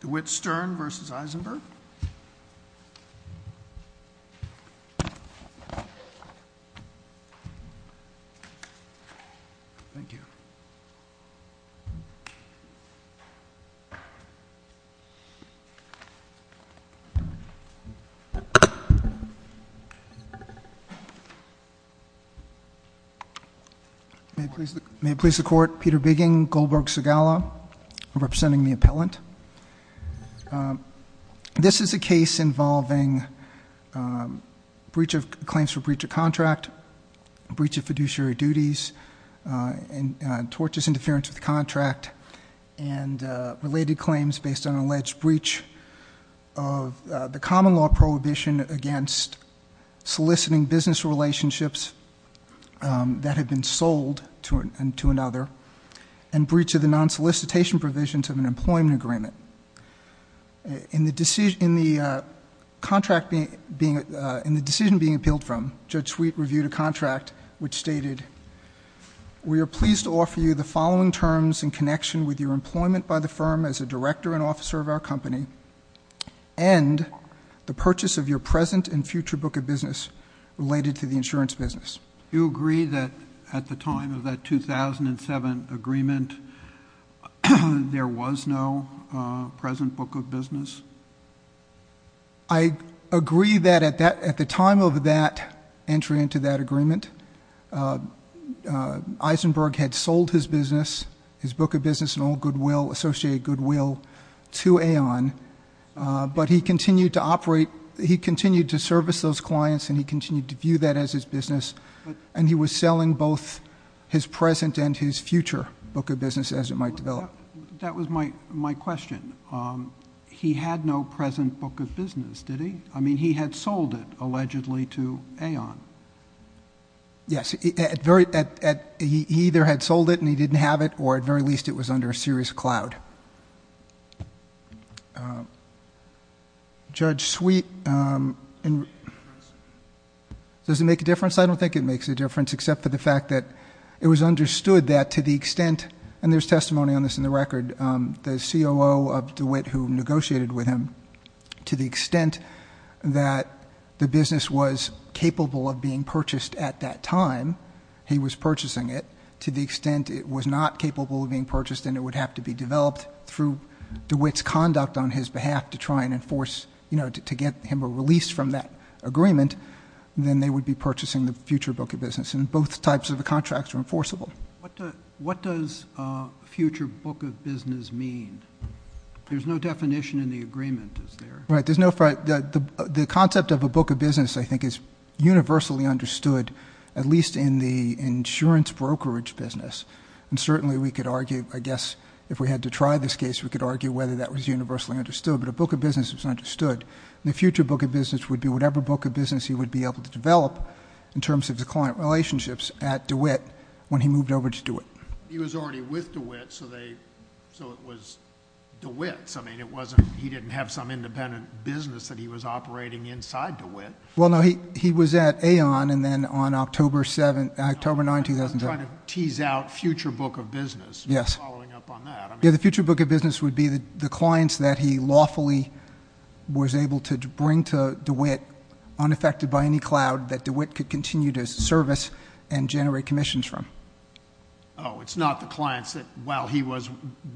DeWitt Stern v. Eisenberg May it please the Court, Peter Bigging, Goldberg, Segala. I'm representing the appellant. This is a case involving claims for breach of contract, breach of fiduciary duties, tortious interference with the contract, and related claims based on an alleged breach of the common law prohibition against soliciting business relationships that have been sold to another, and breach of the non-solicitation provisions of an employment agreement. In the decision being appealed from, Judge Sweet reviewed a contract which stated, We are pleased to offer you the following terms in connection with your employment by the firm as a director and officer of our company, and the purchase of your present and future book of business related to the insurance business. Do you agree that at the time of that 2007 agreement, there was no present book of business? I agree that at the time of that entry into that agreement, Eisenberg had sold his business, his book of business in all goodwill, associated goodwill, to Aon, but he continued to operate, he continued to service those clients, and he continued to view that as his business, and he was selling both his present and his future book of business as it might develop. That was my question. He had no present book of business, did he? I mean, he had sold it, allegedly, to Aon. Yes. He either had sold it and he didn't have it, or at the very least it was under a serious cloud. Judge Sweet, does it make a difference? I don't think it makes a difference except for the fact that it was understood that to the extent, and there's testimony on this in the record, the COO of DeWitt who negotiated with him, to the extent that the business was capable of being purchased at that time, he was purchasing it, to the extent it was not capable of being purchased and it would have to be developed through DeWitt's conduct on his behalf to try and enforce, you know, to get him a release from that agreement, then they would be purchasing the future book of business, and both types of contracts are enforceable. What does future book of business mean? There's no definition in the agreement, is there? Right. The concept of a book of business, I think, is universally understood, at least in the insurance brokerage business, and certainly we could argue, I guess, if we had to try this case, we could argue whether that was universally understood, but a book of business is understood. The future book of business would be whatever book of business he would be able to develop in terms of the client relationships at DeWitt when he moved over to DeWitt. He was already with DeWitt, so it was DeWitt's. I mean, he didn't have some independent business that he was operating inside DeWitt. Well, no, he was at Aon and then on October 9, 2007. I'm trying to tease out future book of business. Yes. You're following up on that. Yeah, the future book of business would be the clients that he lawfully was able to bring to DeWitt, unaffected by any cloud, that DeWitt could continue to service and generate commissions from. Oh, it's not the clients that, well, he was,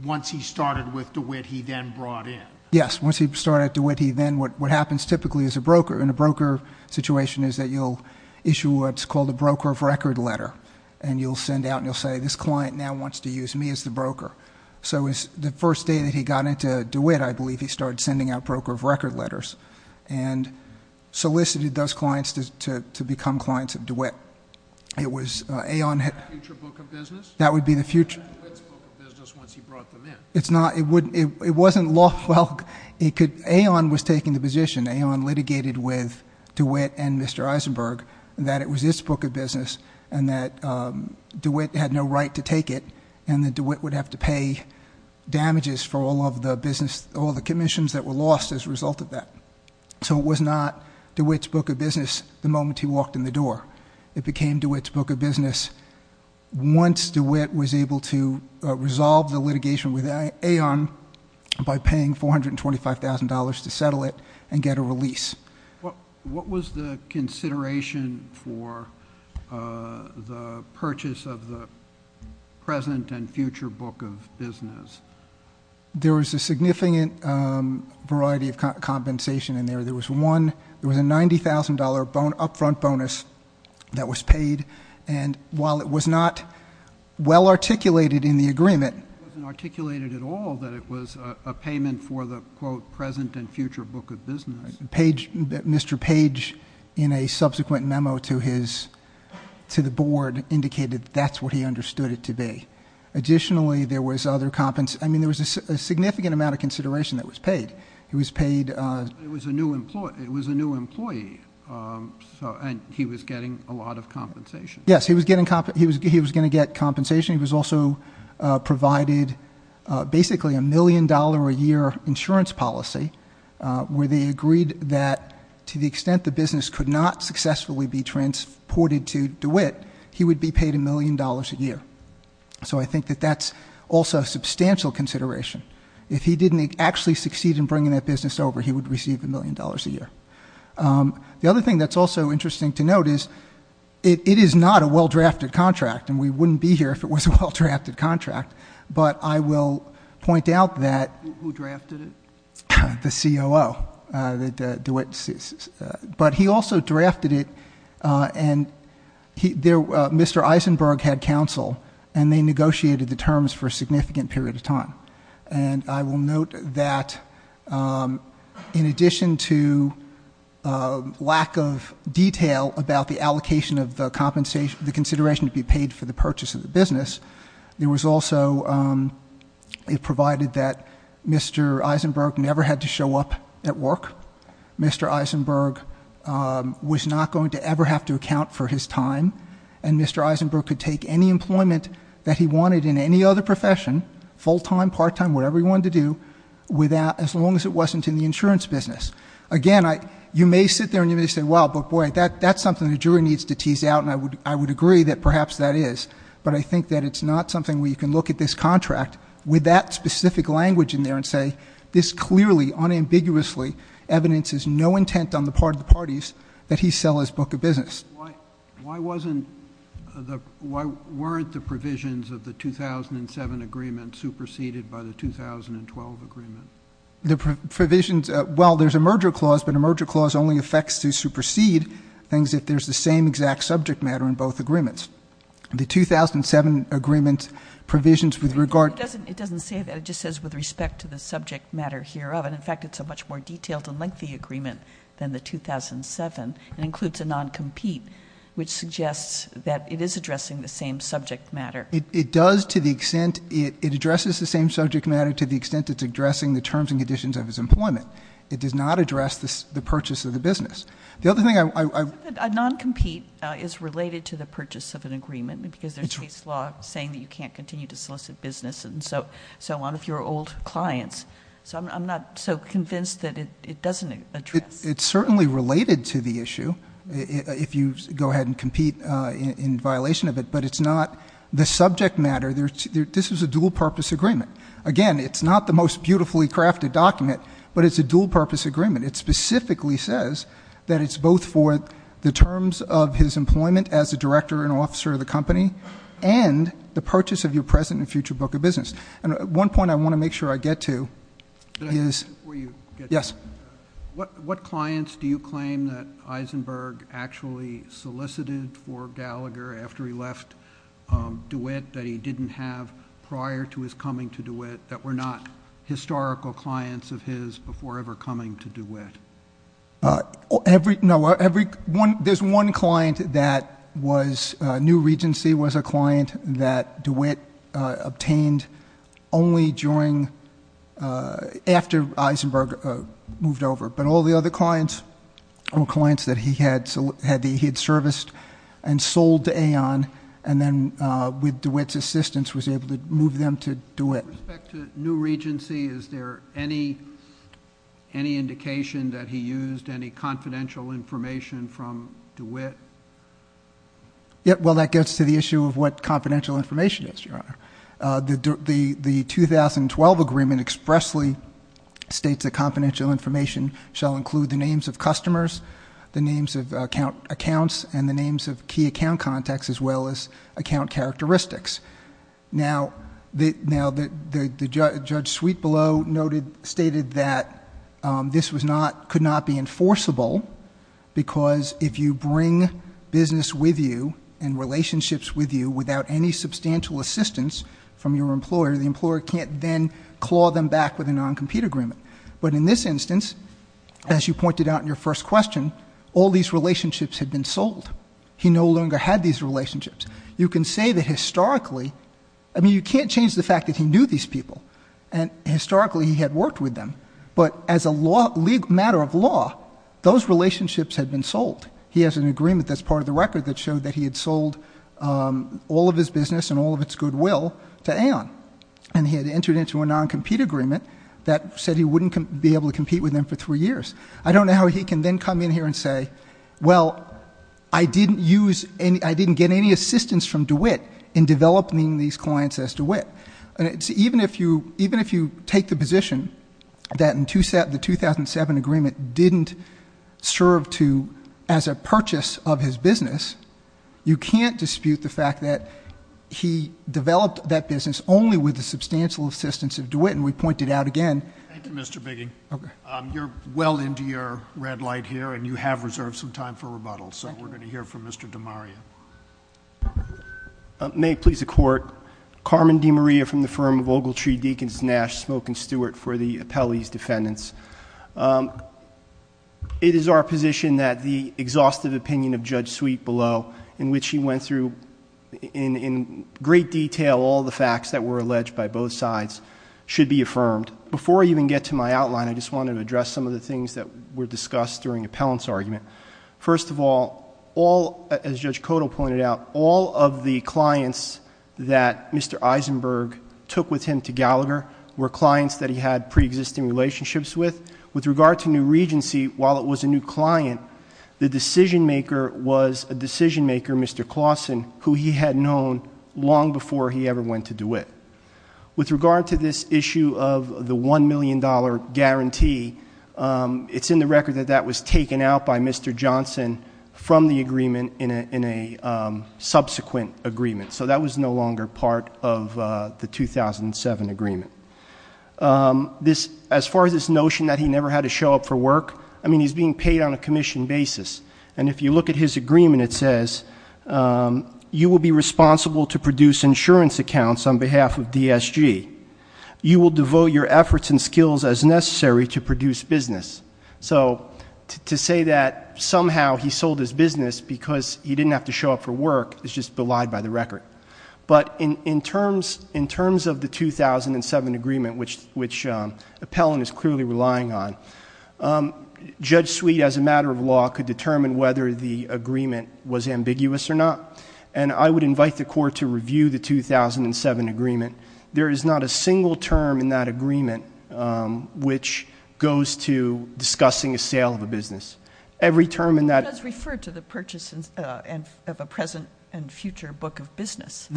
once he started with DeWitt, he then brought in. Yes, once he started at DeWitt, he then, what happens typically as a broker, in a broker situation is that you'll issue what's called a broker of record letter, and you'll send out and you'll say, this client now wants to use me as the broker. So the first day that he got into DeWitt, I believe he started sending out broker of record letters and solicited those clients to become clients of DeWitt. It was Aon. Future book of business? That would be the future. DeWitt's book of business once he brought them in. It wasn't lawful. Aon was taking the position, Aon litigated with DeWitt and Mr. Eisenberg, that it was his book of business and that DeWitt had no right to take it and that DeWitt would have to pay damages for all of the commissions that were lost as a result of that. So it was not DeWitt's book of business the moment he walked in the door. It became DeWitt's book of business once DeWitt was able to resolve the litigation with Aon by paying $425,000 to settle it and get a release. What was the consideration for the purchase of the present and future book of business? There was a significant variety of compensation in there. There was a $90,000 upfront bonus that was paid, and while it was not well articulated in the agreement. It wasn't articulated at all that it was a payment for the, quote, present and future book of business. Mr. Page, in a subsequent memo to the board, indicated that that's what he understood it to be. Additionally, there was other compensation. I mean, there was a significant amount of consideration that was paid. It was a new employee, and he was getting a lot of compensation. Yes, he was going to get compensation. He was also provided basically a million-dollar-a-year insurance policy where they agreed that to the extent the business could not successfully be transported to DeWitt, he would be paid a million dollars a year. So I think that that's also a substantial consideration. If he didn't actually succeed in bringing that business over, he would receive a million dollars a year. The other thing that's also interesting to note is it is not a well-drafted contract, and we wouldn't be here if it was a well-drafted contract, but I will point out that- Who drafted it? The COO, DeWitt. But he also drafted it, and Mr. Eisenberg had counsel, and they negotiated the terms for a significant period of time. And I will note that in addition to lack of detail about the allocation of the compensation, the consideration to be paid for the purchase of the business, there was also a provided that Mr. Eisenberg never had to show up at work. Mr. Eisenberg was not going to ever have to account for his time, and Mr. Eisenberg could take any employment that he wanted in any other profession, full-time, part-time, whatever he wanted to do, as long as it wasn't in the insurance business. Again, you may sit there and you may say, well, but boy, that's something the jury needs to tease out, and I would agree that perhaps that is. But I think that it's not something where you can look at this contract with that specific language in there and say, this clearly, unambiguously evidences no intent on the part of the parties that he sell his book of business. Why wasn't the ‑‑ why weren't the provisions of the 2007 agreement superseded by the 2012 agreement? The provisions ‑‑ well, there's a merger clause, but a merger clause only affects to supersede things if there's the same exact subject matter in both agreements. The 2007 agreement provisions with regard to ‑‑ It doesn't say that. It just says with respect to the subject matter hereof. And, in fact, it's a much more detailed and lengthy agreement than the 2007. It includes a noncompete, which suggests that it is addressing the same subject matter. It does to the extent ‑‑ it addresses the same subject matter to the extent it's addressing the terms and conditions of his employment. It does not address the purchase of the business. The other thing I ‑‑ A noncompete is related to the purchase of an agreement, because there's case law saying that you can't continue to solicit business and so on if you're old clients. So I'm not so convinced that it doesn't address. It's certainly related to the issue if you go ahead and compete in violation of it, but it's not the subject matter. This is a dual‑purpose agreement. Again, it's not the most beautifully crafted document, but it's a dual‑purpose agreement. It specifically says that it's both for the terms of his employment as a director and officer of the company and the purchase of your present and future book of business. And one point I want to make sure I get to is ‑‑ Before you get to it. Yes. What clients do you claim that Eisenberg actually solicited for Gallagher after he left DeWitt that he didn't have prior to his coming to DeWitt that were not historical clients of his before ever coming to DeWitt? Every ‑‑ no, every ‑‑ there's one client that was ‑‑ after Eisenberg moved over, but all the other clients, all clients that he had, he had serviced and sold to Aon and then with DeWitt's assistance was able to move them to DeWitt. With respect to new regency, is there any indication that he used any confidential information from DeWitt? Well, that gets to the issue of what confidential information is, Your Honor. The 2012 agreement expressly states that confidential information shall include the names of customers, the names of accounts, and the names of key account contacts as well as account characteristics. Now, Judge Sweetbelow stated that this could not be enforceable because if you bring business with you and relationships with you without any substantial assistance from your employer, the employer can't then claw them back with a non‑compete agreement. But in this instance, as you pointed out in your first question, all these relationships had been sold. He no longer had these relationships. You can say that historically ‑‑ I mean, you can't change the fact that he knew these people and historically he had worked with them, but as a matter of law, those relationships had been sold. He has an agreement that's part of the record that showed that he had sold all of his business and all of its goodwill to Aon, and he had entered into a non‑compete agreement that said he wouldn't be able to compete with them for three years. I don't know how he can then come in here and say, well, I didn't get any assistance from DeWitt in developing these clients as DeWitt. Even if you take the position that the 2007 agreement didn't serve to ‑‑ as a purchase of his business, you can't dispute the fact that he developed that business only with the substantial assistance of DeWitt, and we point it out again. Thank you, Mr. Bigging. You're well into your red light here, and you have reserved some time for rebuttal, so we're going to hear from Mr. DeMaria. May it please the Court, Carmen DeMaria from the firm of Ogletree, Deakins, Nash, Smoak, and Stewart for the appellee's defendants. It is our position that the exhaustive opinion of Judge Sweet below, in which he went through in great detail all the facts that were alleged by both sides, should be affirmed. Before I even get to my outline, I just wanted to address some of the things that were discussed during the appellant's argument. First of all, as Judge Cotto pointed out, all of the clients that Mr. Eisenberg took with him to Gallagher were clients that he had preexisting relationships with. With regard to New Regency, while it was a new client, the decision-maker was a decision-maker, Mr. Clausen, who he had known long before he ever went to DeWitt. With regard to this issue of the $1 million guarantee, it's in the record that that was taken out by Mr. Johnson from the agreement in a subsequent agreement. So that was no longer part of the 2007 agreement. As far as this notion that he never had to show up for work, I mean, he's being paid on a commission basis. And if you look at his agreement, it says, you will be responsible to produce insurance accounts on behalf of DSG. You will devote your efforts and skills as necessary to produce business. So to say that somehow he sold his business because he didn't have to show up for work is just belied by the record. But in terms of the 2007 agreement, which Appellant is clearly relying on, Judge Sweet, as a matter of law, could determine whether the agreement was ambiguous or not, and I would invite the Court to review the 2007 agreement. There is not a single term in that agreement which goes to discussing a sale of a business. Every term in that... It does refer to the purchase of a present and future book of business.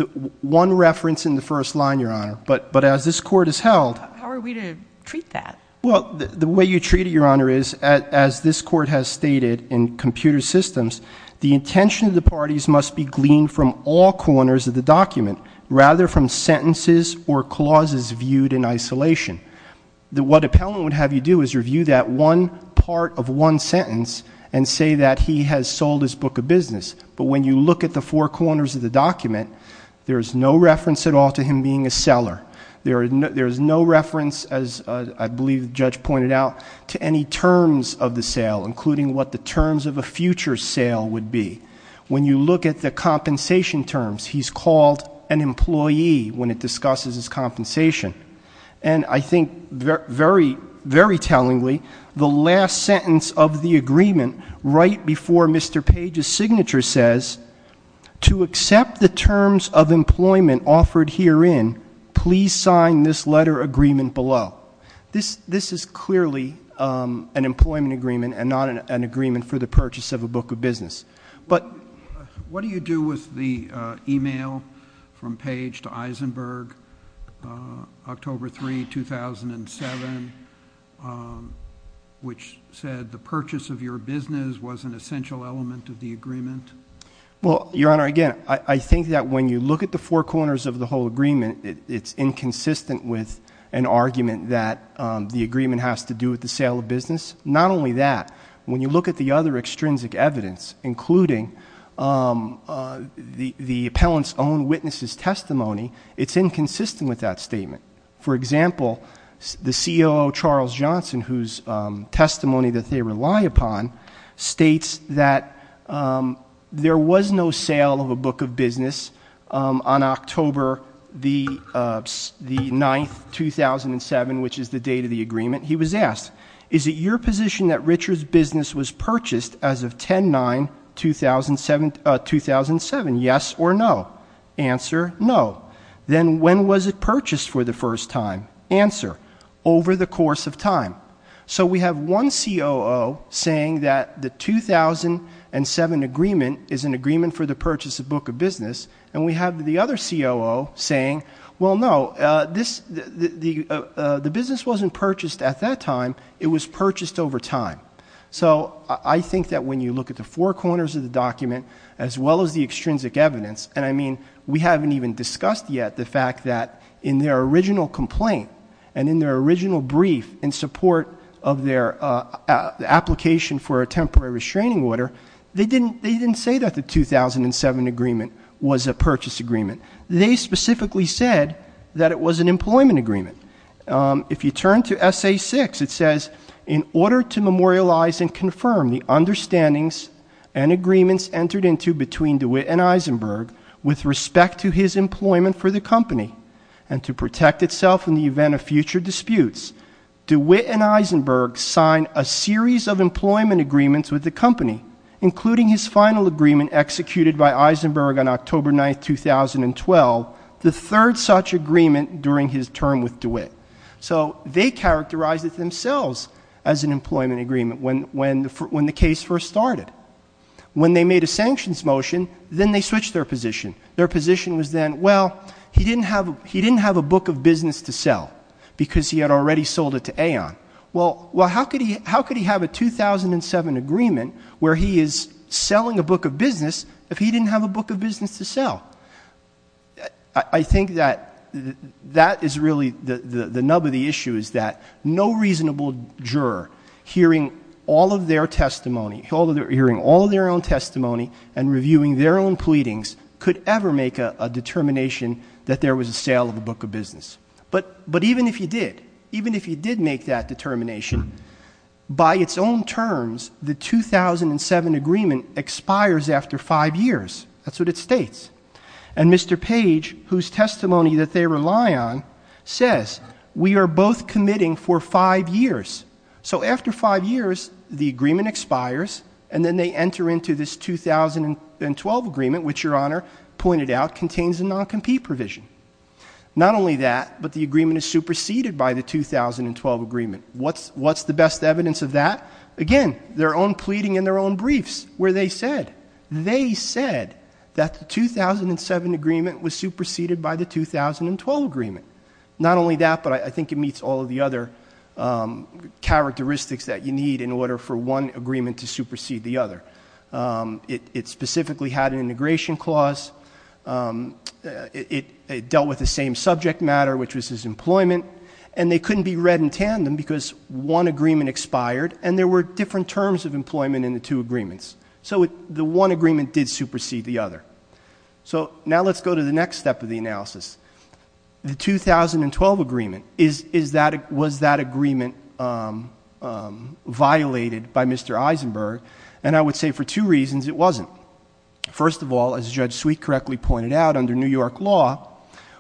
One reference in the first line, Your Honor. But as this Court has held... How are we to treat that? Well, the way you treat it, Your Honor, is, as this Court has stated in Computer Systems, the intention of the parties must be gleaned from all corners of the document, rather from sentences or clauses viewed in isolation. What Appellant would have you do is review that one part of one sentence and say that he has sold his book of business. But when you look at the four corners of the document, there is no reference at all to him being a seller. There is no reference, as I believe the Judge pointed out, to any terms of the sale, including what the terms of a future sale would be. When you look at the compensation terms, he's called an employee when it discusses his compensation. And I think, very tellingly, the last sentence of the agreement right before Mr. Page's signature says, to accept the terms of employment offered herein, please sign this letter agreement below. This is clearly an employment agreement and not an agreement for the purchase of a book of business. What do you do with the email from Page to Eisenberg, October 3, 2007, which said the purchase of your business was an essential element of the agreement? Well, Your Honor, again, I think that when you look at the four corners of the whole agreement, it's inconsistent with an argument that the agreement has to do with the sale of business. Not only that, when you look at the other extrinsic evidence, including the appellant's own witness's testimony, it's inconsistent with that statement. For example, the COO, Charles Johnson, whose testimony that they rely upon, states that there was no sale of a book of business on October 9, 2007, which is the date of the agreement. He was asked, Is it your position that Richard's business was purchased as of 10-9, 2007? Yes or no? Answer, no. Then when was it purchased for the first time? Answer, over the course of time. So we have one COO saying that the 2007 agreement is an agreement for the purchase of a book of business, and we have the other COO saying, Well, no, the business wasn't purchased at that time. It was purchased over time. So I think that when you look at the four corners of the document, as well as the extrinsic evidence, and I mean we haven't even discussed yet the fact that in their original complaint and in their original brief in support of their application for a temporary restraining order, they didn't say that the 2007 agreement was a purchase agreement. They specifically said that it was an employment agreement. If you turn to Essay 6, it says, In order to memorialize and confirm the understandings and agreements entered into between DeWitt and Eisenberg with respect to his employment for the company and to protect itself in the event of future disputes, DeWitt and Eisenberg signed a series of employment agreements with the company, including his final agreement executed by Eisenberg on October 9, 2012, the third such agreement during his term with DeWitt. So they characterized it themselves as an employment agreement when the case first started. When they made a sanctions motion, then they switched their position. Their position was then, well, he didn't have a book of business to sell because he had already sold it to Aon. Well, how could he have a 2007 agreement where he is selling a book of business if he didn't have a book of business to sell? I think that that is really the nub of the issue, is that no reasonable juror hearing all of their own testimony and reviewing their own pleadings could ever make a determination that there was a sale of a book of business. But even if you did, even if you did make that determination, by its own terms, the 2007 agreement expires after five years. That's what it states. And Mr. Page, whose testimony that they rely on, says, we are both committing for five years. So after five years, the agreement expires, and then they enter into this 2012 agreement, which Your Honor pointed out contains a non-compete provision. Not only that, but the agreement is superseded by the 2012 agreement. What's the best evidence of that? Again, their own pleading and their own briefs where they said, they said that the 2007 agreement was superseded by the 2012 agreement. Not only that, but I think it meets all of the other characteristics that you need in order for one agreement to supersede the other. It specifically had an integration clause. It dealt with the same subject matter, which was his employment. And they couldn't be read in tandem because one agreement expired, and there were different terms of employment in the two agreements. So the one agreement did supersede the other. So now let's go to the next step of the analysis. The 2012 agreement, was that agreement violated by Mr. Eisenberg? And I would say for two reasons it wasn't. First of all, as Judge Sweet correctly pointed out, under New York law,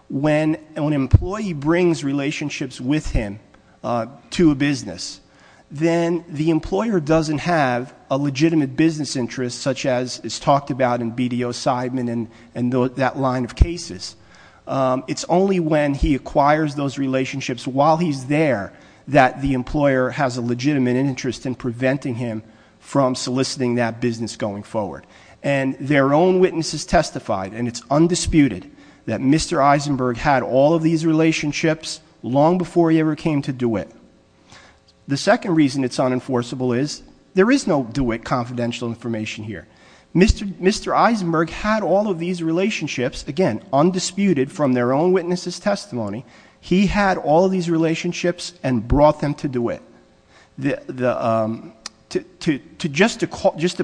when an employee brings relationships with him to a business, then the employer doesn't have a legitimate business interest, such as is talked about in BDO-Sideman and that line of cases. It's only when he acquires those relationships while he's there that the employer has a legitimate interest in preventing him from soliciting that business going forward. And their own witnesses testified, and it's undisputed, that Mr. Eisenberg had all of these relationships long before he ever came to DeWitt. The second reason it's unenforceable is there is no DeWitt confidential information here. Mr. Eisenberg had all of these relationships, again, undisputed, from their own witnesses' testimony. He had all of these relationships and brought them to DeWitt. Just to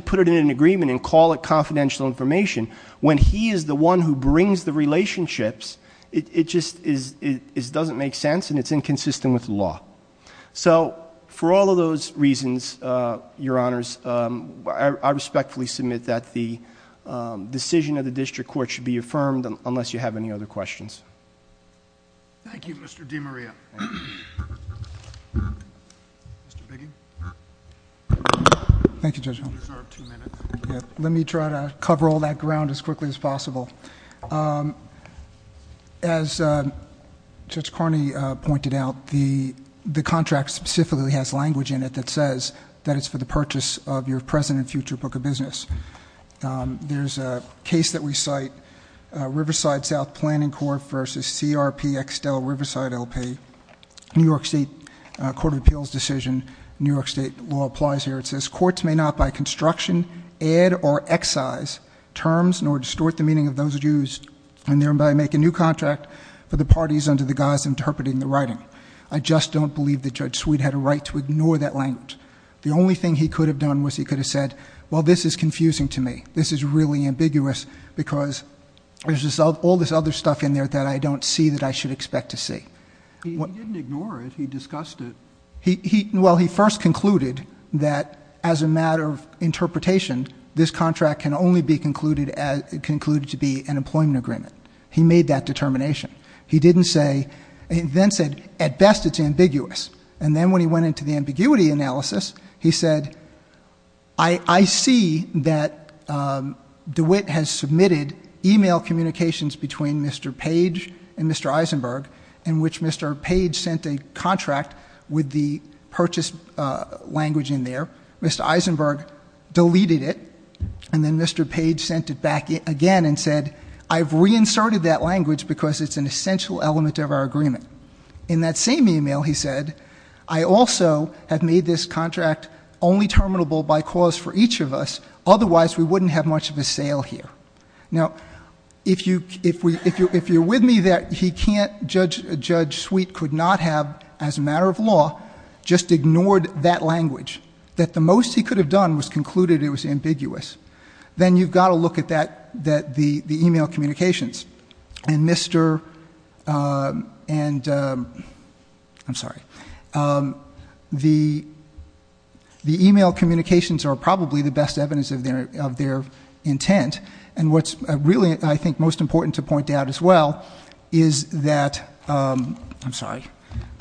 put it in an agreement and call it confidential information, when he is the one who brings the relationships, it just doesn't make sense and it's inconsistent with the law. So for all of those reasons, Your Honors, I respectfully submit that the decision of the district court should be affirmed, unless you have any other questions. Thank you, Mr. DiMaria. Mr. Biggie? Thank you, Judge Holmes. You deserve two minutes. Let me try to cover all that ground as quickly as possible. As Judge Carney pointed out, the contract specifically has language in it that says that it's for the purchase of your present and future book of business. There's a case that we cite, Riverside South Planning Corp. v. CRP Extel Riverside LP, New York State Court of Appeals decision. New York State law applies here. It says, courts may not by construction, add, or excise terms nor distort the meaning of those used and thereby make a new contract for the parties under the guise interpreting the writing. I just don't believe that Judge Sweet had a right to ignore that language. The only thing he could have done was he could have said, well, this is confusing to me. This is really ambiguous because there's all this other stuff in there that I don't see that I should expect to see. He didn't ignore it. He discussed it. Well, he first concluded that as a matter of interpretation, this contract can only be concluded to be an employment agreement. He made that determination. And then when he went into the ambiguity analysis, he said, I see that DeWitt has submitted email communications between Mr. Page and Mr. Eisenberg, in which Mr. Page sent a contract with the purchase language in there. Mr. Eisenberg deleted it. And then Mr. Page sent it back again and said, I've reinserted that language because it's an essential element of our agreement. In that same email, he said, I also have made this contract only terminable by cause for each of us. Otherwise, we wouldn't have much of a sale here. Now, if you're with me that he can't, Judge Sweet could not have, as a matter of law, just ignored that language, that the most he could have done was concluded it was ambiguous, then you've got to look at the email communications. And Mr. and, I'm sorry, the email communications are probably the best evidence of their intent. And what's really, I think, most important to point out as well is that, I'm sorry,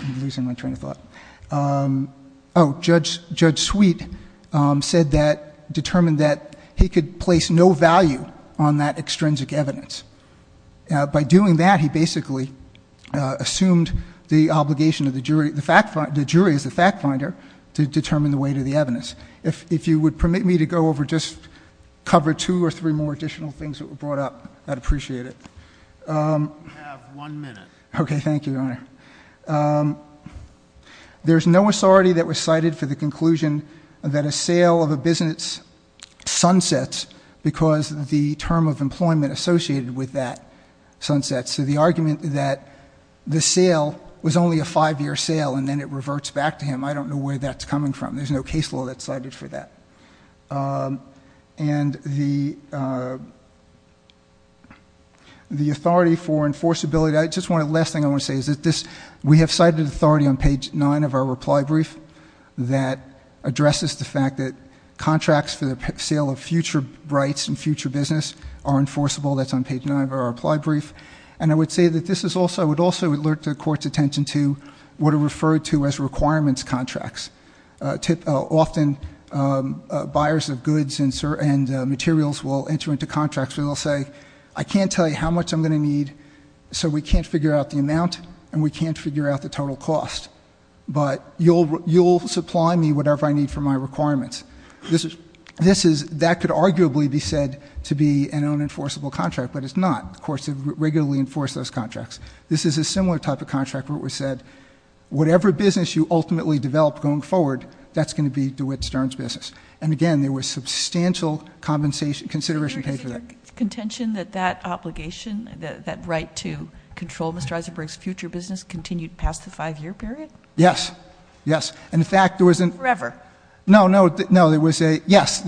I'm losing my train of thought. Judge Sweet said that, determined that he could place no value on that extrinsic evidence. By doing that, he basically assumed the obligation of the jury, the jury is the fact finder, to determine the weight of the evidence. If you would permit me to go over just cover two or three more additional things that were brought up, I'd appreciate it. We have one minute. Okay, thank you, Your Honor. There's no authority that was cited for the conclusion that a sale of a business sunsets because the term of employment associated with that sunsets. So the argument that the sale was only a five-year sale and then it reverts back to him, I don't know where that's coming from. There's no case law that's cited for that. And the authority for enforceability, I just want to, the last thing I want to say is that this, we have cited authority on page nine of our reply brief that addresses the fact that contracts for the sale of future rights and future business are enforceable. That's on page nine of our reply brief. And I would say that this is also, I would also alert the court's attention to what are referred to as requirements contracts. Often buyers of goods and materials will enter into contracts where they'll say, I can't tell you how much I'm going to need so we can't figure out the amount and we can't figure out the total cost. But you'll supply me whatever I need for my requirements. This is, that could arguably be said to be an unenforceable contract, but it's not. The courts have regularly enforced those contracts. This is a similar type of contract where it was said, whatever business you ultimately develop going forward, that's going to be DeWitt Stern's business. And again, there was substantial compensation, consideration paid for that. Is there contention that that obligation, that right to control Mr. Eisenberg's future business continued past the five year period? Yes. Yes. And in fact, there was a- Forever. No, no, no. There was a, yes,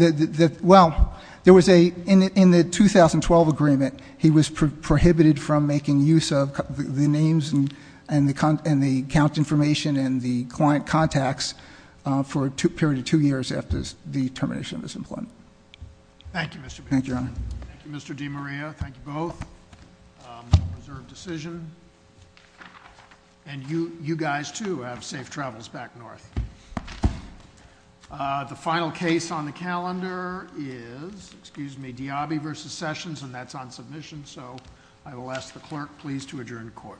well, there was a, in the 2012 agreement, he was prohibited from making use of the names and the account information and the client contacts for a period of two years after the termination of his employment. Thank you, Mr. Benjamin. Thank you, Your Honor. Thank you, Mr. DiMaria. Thank you both. Reserved decision. And you guys, too, have safe travels back north. The final case on the calendar is, excuse me, Diabi v. Sessions, and that's on submission, so I will ask the clerk, please, to adjourn the court.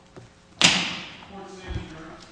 Court is adjourned.